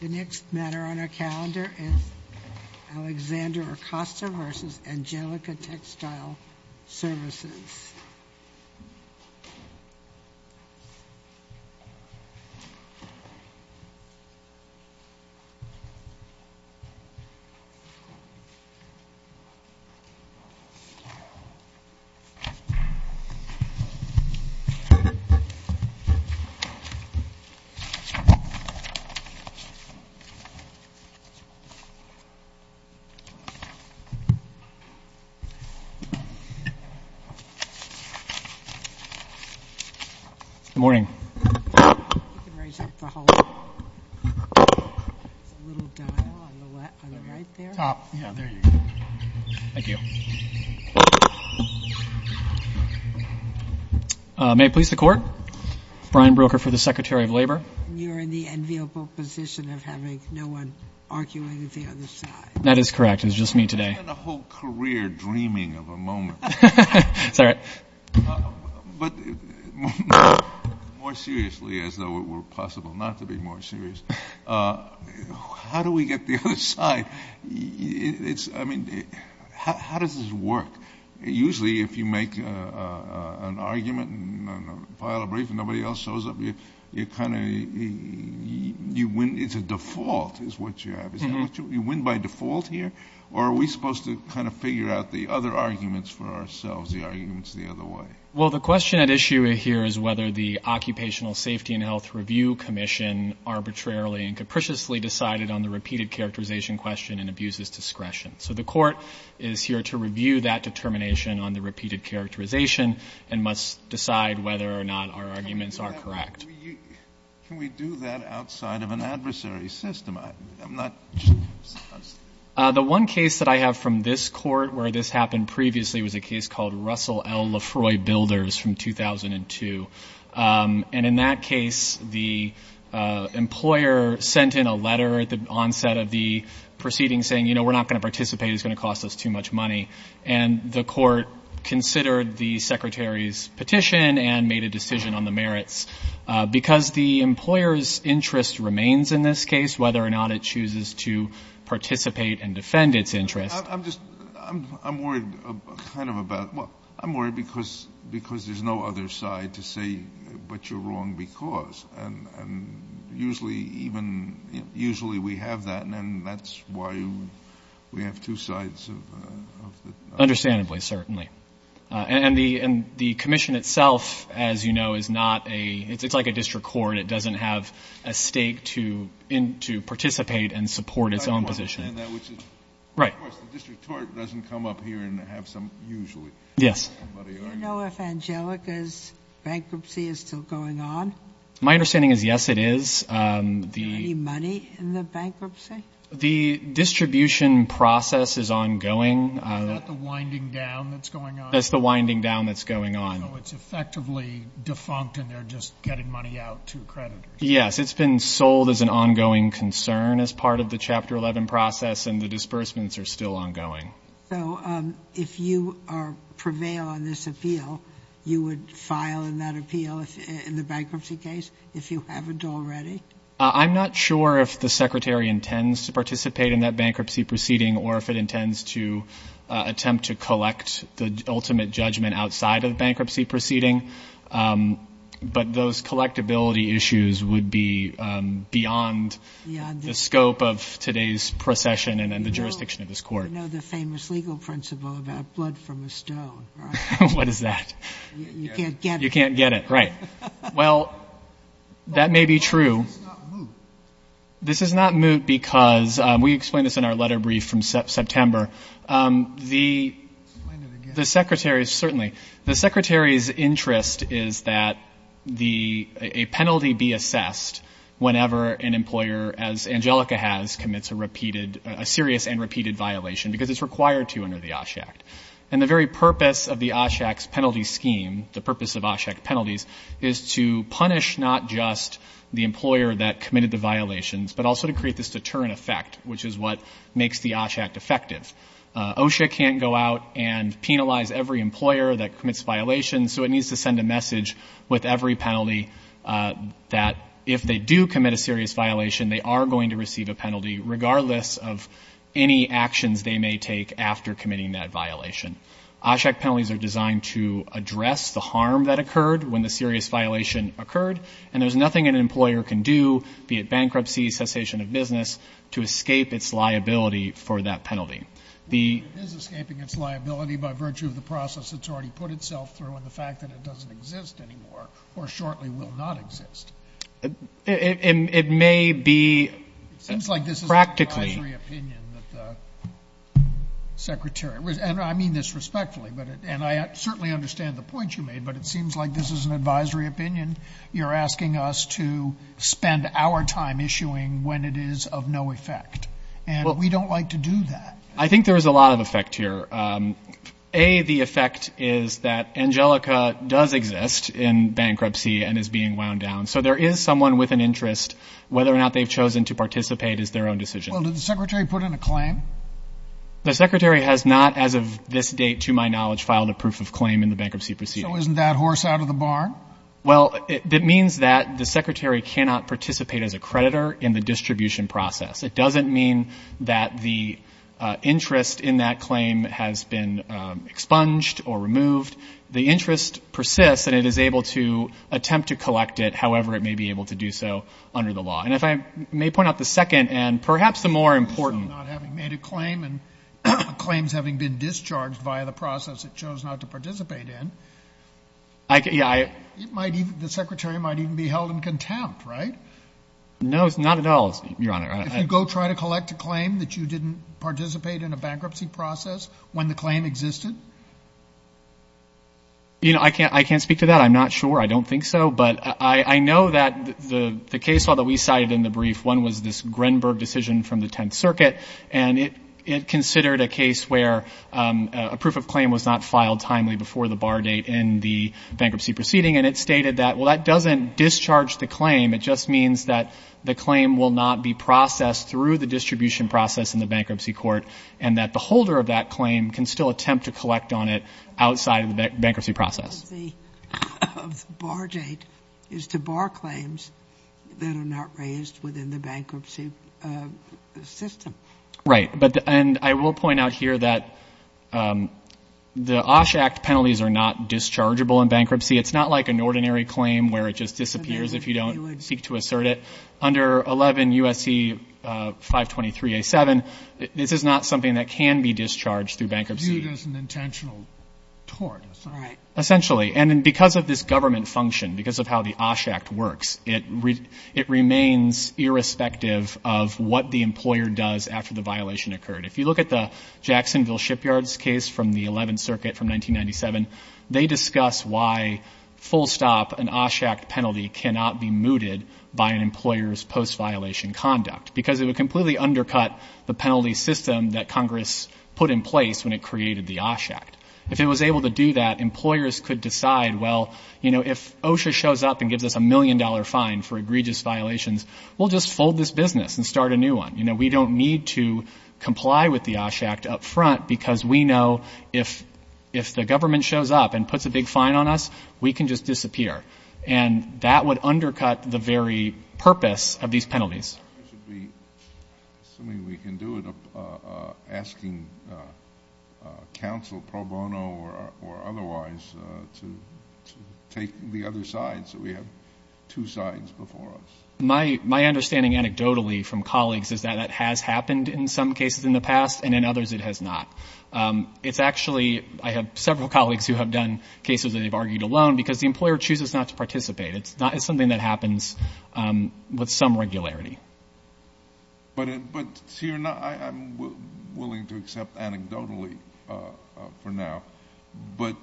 The next matter on our calendar is Alexander Acosta v. Angelica Textile Services. Good morning. You can raise up the whole, little dial on the right there. Top, yeah, there you go. Thank you. May it please the court? Brian Broecker for the Secretary of Labor. You're in the enviable position of having no one arguing at the other side. That is correct. It was just me today. I had a whole career dreaming of a moment. It's all right. But more seriously, as though it were possible not to be more serious, how do we get the other side? I mean, how does this work? Usually if you make an argument and file a brief and nobody else shows up, it's a default is what you have. You win by default here? Or are we supposed to kind of figure out the other arguments for ourselves, the arguments the other way? Well, the question at issue here is whether the Occupational Safety and Health Review Commission arbitrarily and capriciously decided on the repeated characterization question and abuses discretion. So the court is here to review that determination on the repeated characterization and must decide whether or not our arguments are correct. Can we do that outside of an adversary system? The one case that I have from this court where this happened previously was a case called Russell L. LaFroy Builders from 2002. And in that case, the employer sent in a letter at the onset of the proceeding saying, you know, we're not going to participate, it's going to cost us too much money. And the court considered the secretary's petition and made a decision on the merits. Because the employer's interest remains in this case, whether or not it chooses to participate and defend its interest. I'm worried because there's no other side to say what you're wrong because. And usually we have that, and that's why we have two sides. Understandably, certainly. And the commission itself, as you know, is not a ‑‑ it's like a district court. It doesn't have a stake to participate and support its own position. Right. The district court doesn't come up here and have some usually. Yes. Do you know if Angelica's bankruptcy is still going on? My understanding is, yes, it is. Is there any money in the bankruptcy? The distribution process is ongoing. Is that the winding down that's going on? That's the winding down that's going on. So it's effectively defunct and they're just getting money out to creditors. Yes, it's been sold as an ongoing concern as part of the Chapter 11 process, and the disbursements are still ongoing. So if you prevail on this appeal, you would file in that appeal in the bankruptcy case if you haven't already? I'm not sure if the secretary intends to participate in that bankruptcy proceeding or if it intends to attempt to collect the ultimate judgment outside of the bankruptcy proceeding. But those collectability issues would be beyond the scope of today's procession and the jurisdiction of this court. You know the famous legal principle about blood from a stone, right? What is that? You can't get it. You can't get it, right. Well, that may be true. Why is this not moot? This is not moot because we explained this in our letter brief from September. Explain it again. The secretary's interest is that a penalty be assessed whenever an employer, as Angelica has, commits a repeated, a serious and repeated violation because it's required to under the OSHA Act. And the very purpose of the OSHA Act's penalty scheme, the purpose of OSHA Act penalties, is to punish not just the employer that committed the violations, but also to create this deterrent effect, which is what makes the OSHA Act effective. OSHA can't go out and penalize every employer that commits violations, so it needs to send a message with every penalty that if they do commit a serious violation, they are going to receive a penalty regardless of any actions they may take after committing that violation. OSHA Act penalties are designed to address the harm that occurred when the serious violation occurred, and there's nothing an employer can do, be it bankruptcy, cessation of business, to escape its liability for that penalty. It is escaping its liability by virtue of the process it's already put itself through and the fact that it doesn't exist anymore or shortly will not exist. It may be practically. It seems like this is an advisory opinion that the secretary, and I mean this respectfully, and I certainly understand the point you made, but it seems like this is an advisory opinion. You're asking us to spend our time issuing when it is of no effect, and we don't like to do that. I think there is a lot of effect here. A, the effect is that Angelica does exist in bankruptcy and is being wound down, so there is someone with an interest. Whether or not they've chosen to participate is their own decision. Well, did the secretary put in a claim? The secretary has not, as of this date to my knowledge, filed a proof of claim in the bankruptcy proceeding. So isn't that horse out of the barn? Well, it means that the secretary cannot participate as a creditor in the distribution process. It doesn't mean that the interest in that claim has been expunged or removed. The interest persists, and it is able to attempt to collect it however it may be able to do so under the law. And if I may point out the second and perhaps the more important. So not having made a claim and claims having been discharged via the process it chose not to participate in. Yeah, I. The secretary might even be held in contempt, right? No, not at all, Your Honor. If you go try to collect a claim that you didn't participate in a bankruptcy process when the claim existed? You know, I can't speak to that. I'm not sure. I don't think so, but I know that the case law that we cited in the brief, one was this Grenberg decision from the Tenth Circuit, and it considered a case where a proof of claim was not filed timely before the bar date in the bankruptcy proceeding, and it stated that, well, that doesn't discharge the claim. It just means that the claim will not be processed through the distribution process in the bankruptcy court and that the holder of that claim can still attempt to collect on it outside of the bankruptcy process. Because the bar date is to bar claims that are not raised within the bankruptcy system. Right. And I will point out here that the OSH Act penalties are not dischargeable in bankruptcy. It's not like an ordinary claim where it just disappears if you don't seek to assert it. Under 11 U.S.C. 523A7, this is not something that can be discharged through bankruptcy. It's viewed as an intentional tort. Right. Essentially. And because of this government function, because of how the OSH Act works, it remains irrespective of what the employer does after the violation occurred. If you look at the Jacksonville Shipyards case from the Eleventh Circuit from 1997, they discuss why, full stop, an OSH Act penalty cannot be mooted by an employer's post-violation conduct because it would completely undercut the penalty system that Congress put in place when it created the OSH Act. If it was able to do that, employers could decide, well, you know, if OSHA shows up and gives us a million-dollar fine for egregious violations, we'll just fold this business and start a new one. You know, we don't need to comply with the OSH Act up front because we know if the government shows up and puts a big fine on us, we can just disappear. And that would undercut the very purpose of these penalties. I should be assuming we can do it asking counsel, pro bono or otherwise, to take the other side so we have two sides before us. My understanding anecdotally from colleagues is that that has happened in some cases in the past, and in others it has not. It's actually, I have several colleagues who have done cases that they've argued alone because the employer chooses not to participate. It's something that happens with some regularity. But, Seer, I'm willing to accept anecdotally for now, but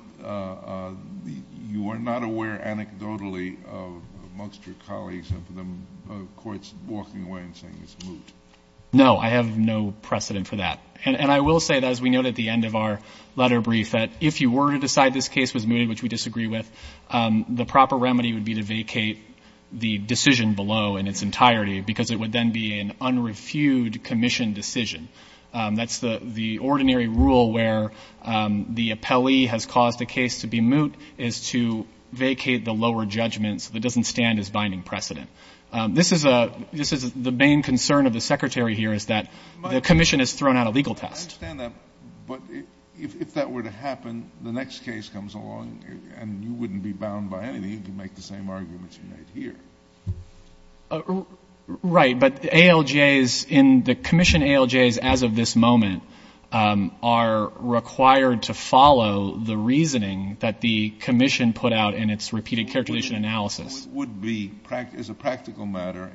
you are not aware anecdotally of most of your colleagues of courts walking away and saying it's moot. No, I have no precedent for that. And I will say, as we note at the end of our letter brief, that if you were to decide this case was mooted, which we disagree with, the proper remedy would be to vacate the decision below in its entirety because it would then be an unreviewed commission decision. That's the ordinary rule where the appellee has caused the case to be moot is to vacate the lower judgment so it doesn't stand as binding precedent. This is the main concern of the Secretary here is that the commission has thrown out a legal test. I understand that, but if that were to happen, the next case comes along and you wouldn't be bound by anything. You can make the same arguments you made here. Right, but ALJs in the commission ALJs as of this moment are required to follow the reasoning that the commission put out in its repeated characterization analysis. It would be, as a practical matter,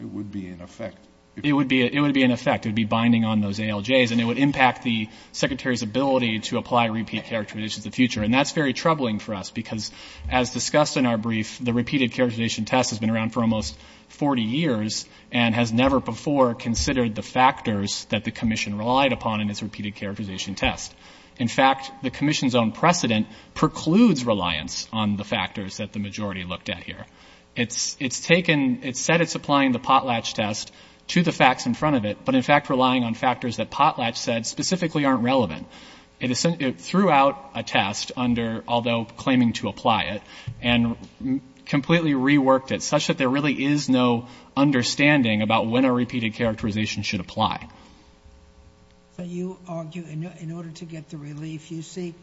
it would be in effect. It would be in effect. It would be binding on those ALJs. And it would impact the Secretary's ability to apply repeat characterizations in the future. And that's very troubling for us because, as discussed in our brief, the repeated characterization test has been around for almost 40 years and has never before considered the factors that the commission relied upon in its repeated characterization test. In fact, the commission's own precedent precludes reliance on the factors that the majority looked at here. It's taken, it's said it's applying the potlatch test to the facts in front of it, but in fact relying on factors that potlatch said specifically aren't relevant. It threw out a test under, although claiming to apply it, and completely reworked it such that there really is no understanding about when a repeated characterization should apply. So you argue in order to get the relief you seek,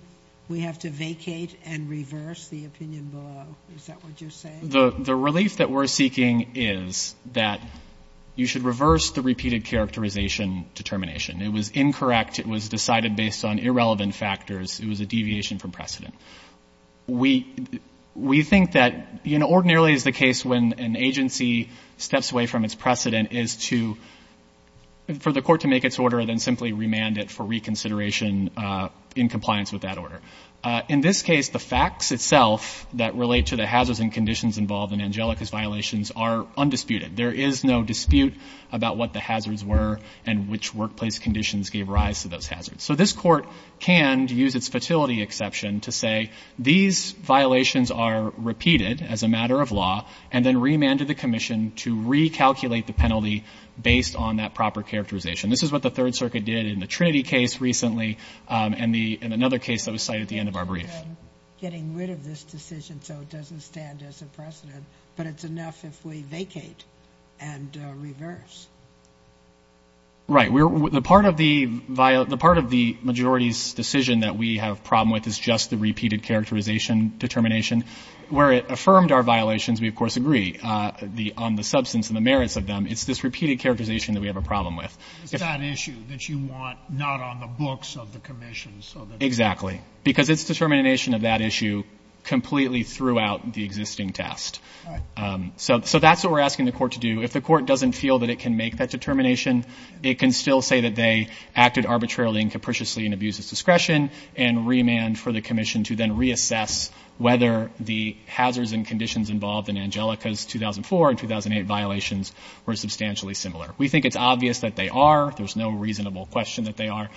we have to vacate and reverse the opinion below. Is that what you're saying? The relief that we're seeking is that you should reverse the repeated characterization determination. It was incorrect. It was decided based on irrelevant factors. It was a deviation from precedent. We think that, you know, ordinarily is the case when an agency steps away from its precedent is to, for the court to make its order and then simply remand it for reconsideration in compliance with that order. In this case, the facts itself that relate to the hazards and conditions involved in Angelica's violations are undisputed. There is no dispute about what the hazards were and which workplace conditions gave rise to those hazards. So this court can use its fertility exception to say these violations are repeated as a matter of law and then remanded the commission to recalculate the penalty based on that proper characterization. This is what the Third Circuit did in the Trinity case recently and another case that was cited at the end of our brief. Getting rid of this decision so it doesn't stand as a precedent, but it's enough if we vacate and reverse. Right. The part of the majority's decision that we have a problem with is just the repeated characterization determination. Where it affirmed our violations, we, of course, agree on the substance and the merits of them. It's this repeated characterization that we have a problem with. It's that issue that you want not on the books of the commission. Exactly, because it's determination of that issue completely throughout the existing test. So that's what we're asking the court to do. If the court doesn't feel that it can make that determination, it can still say that they acted arbitrarily and capriciously in abuse of discretion and remand for the commission to then reassess whether the hazards and conditions involved in Angelica's 2004 and 2008 violations were substantially similar. We think it's obvious that they are. There's no reasonable question that they are.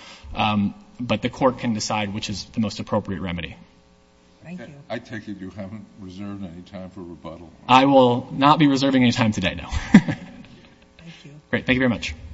But the court can decide which is the most appropriate remedy. Thank you. I take it you haven't reserved any time for rebuttal. I will not be reserving any time today, no. Thank you. Great. Thank you very much.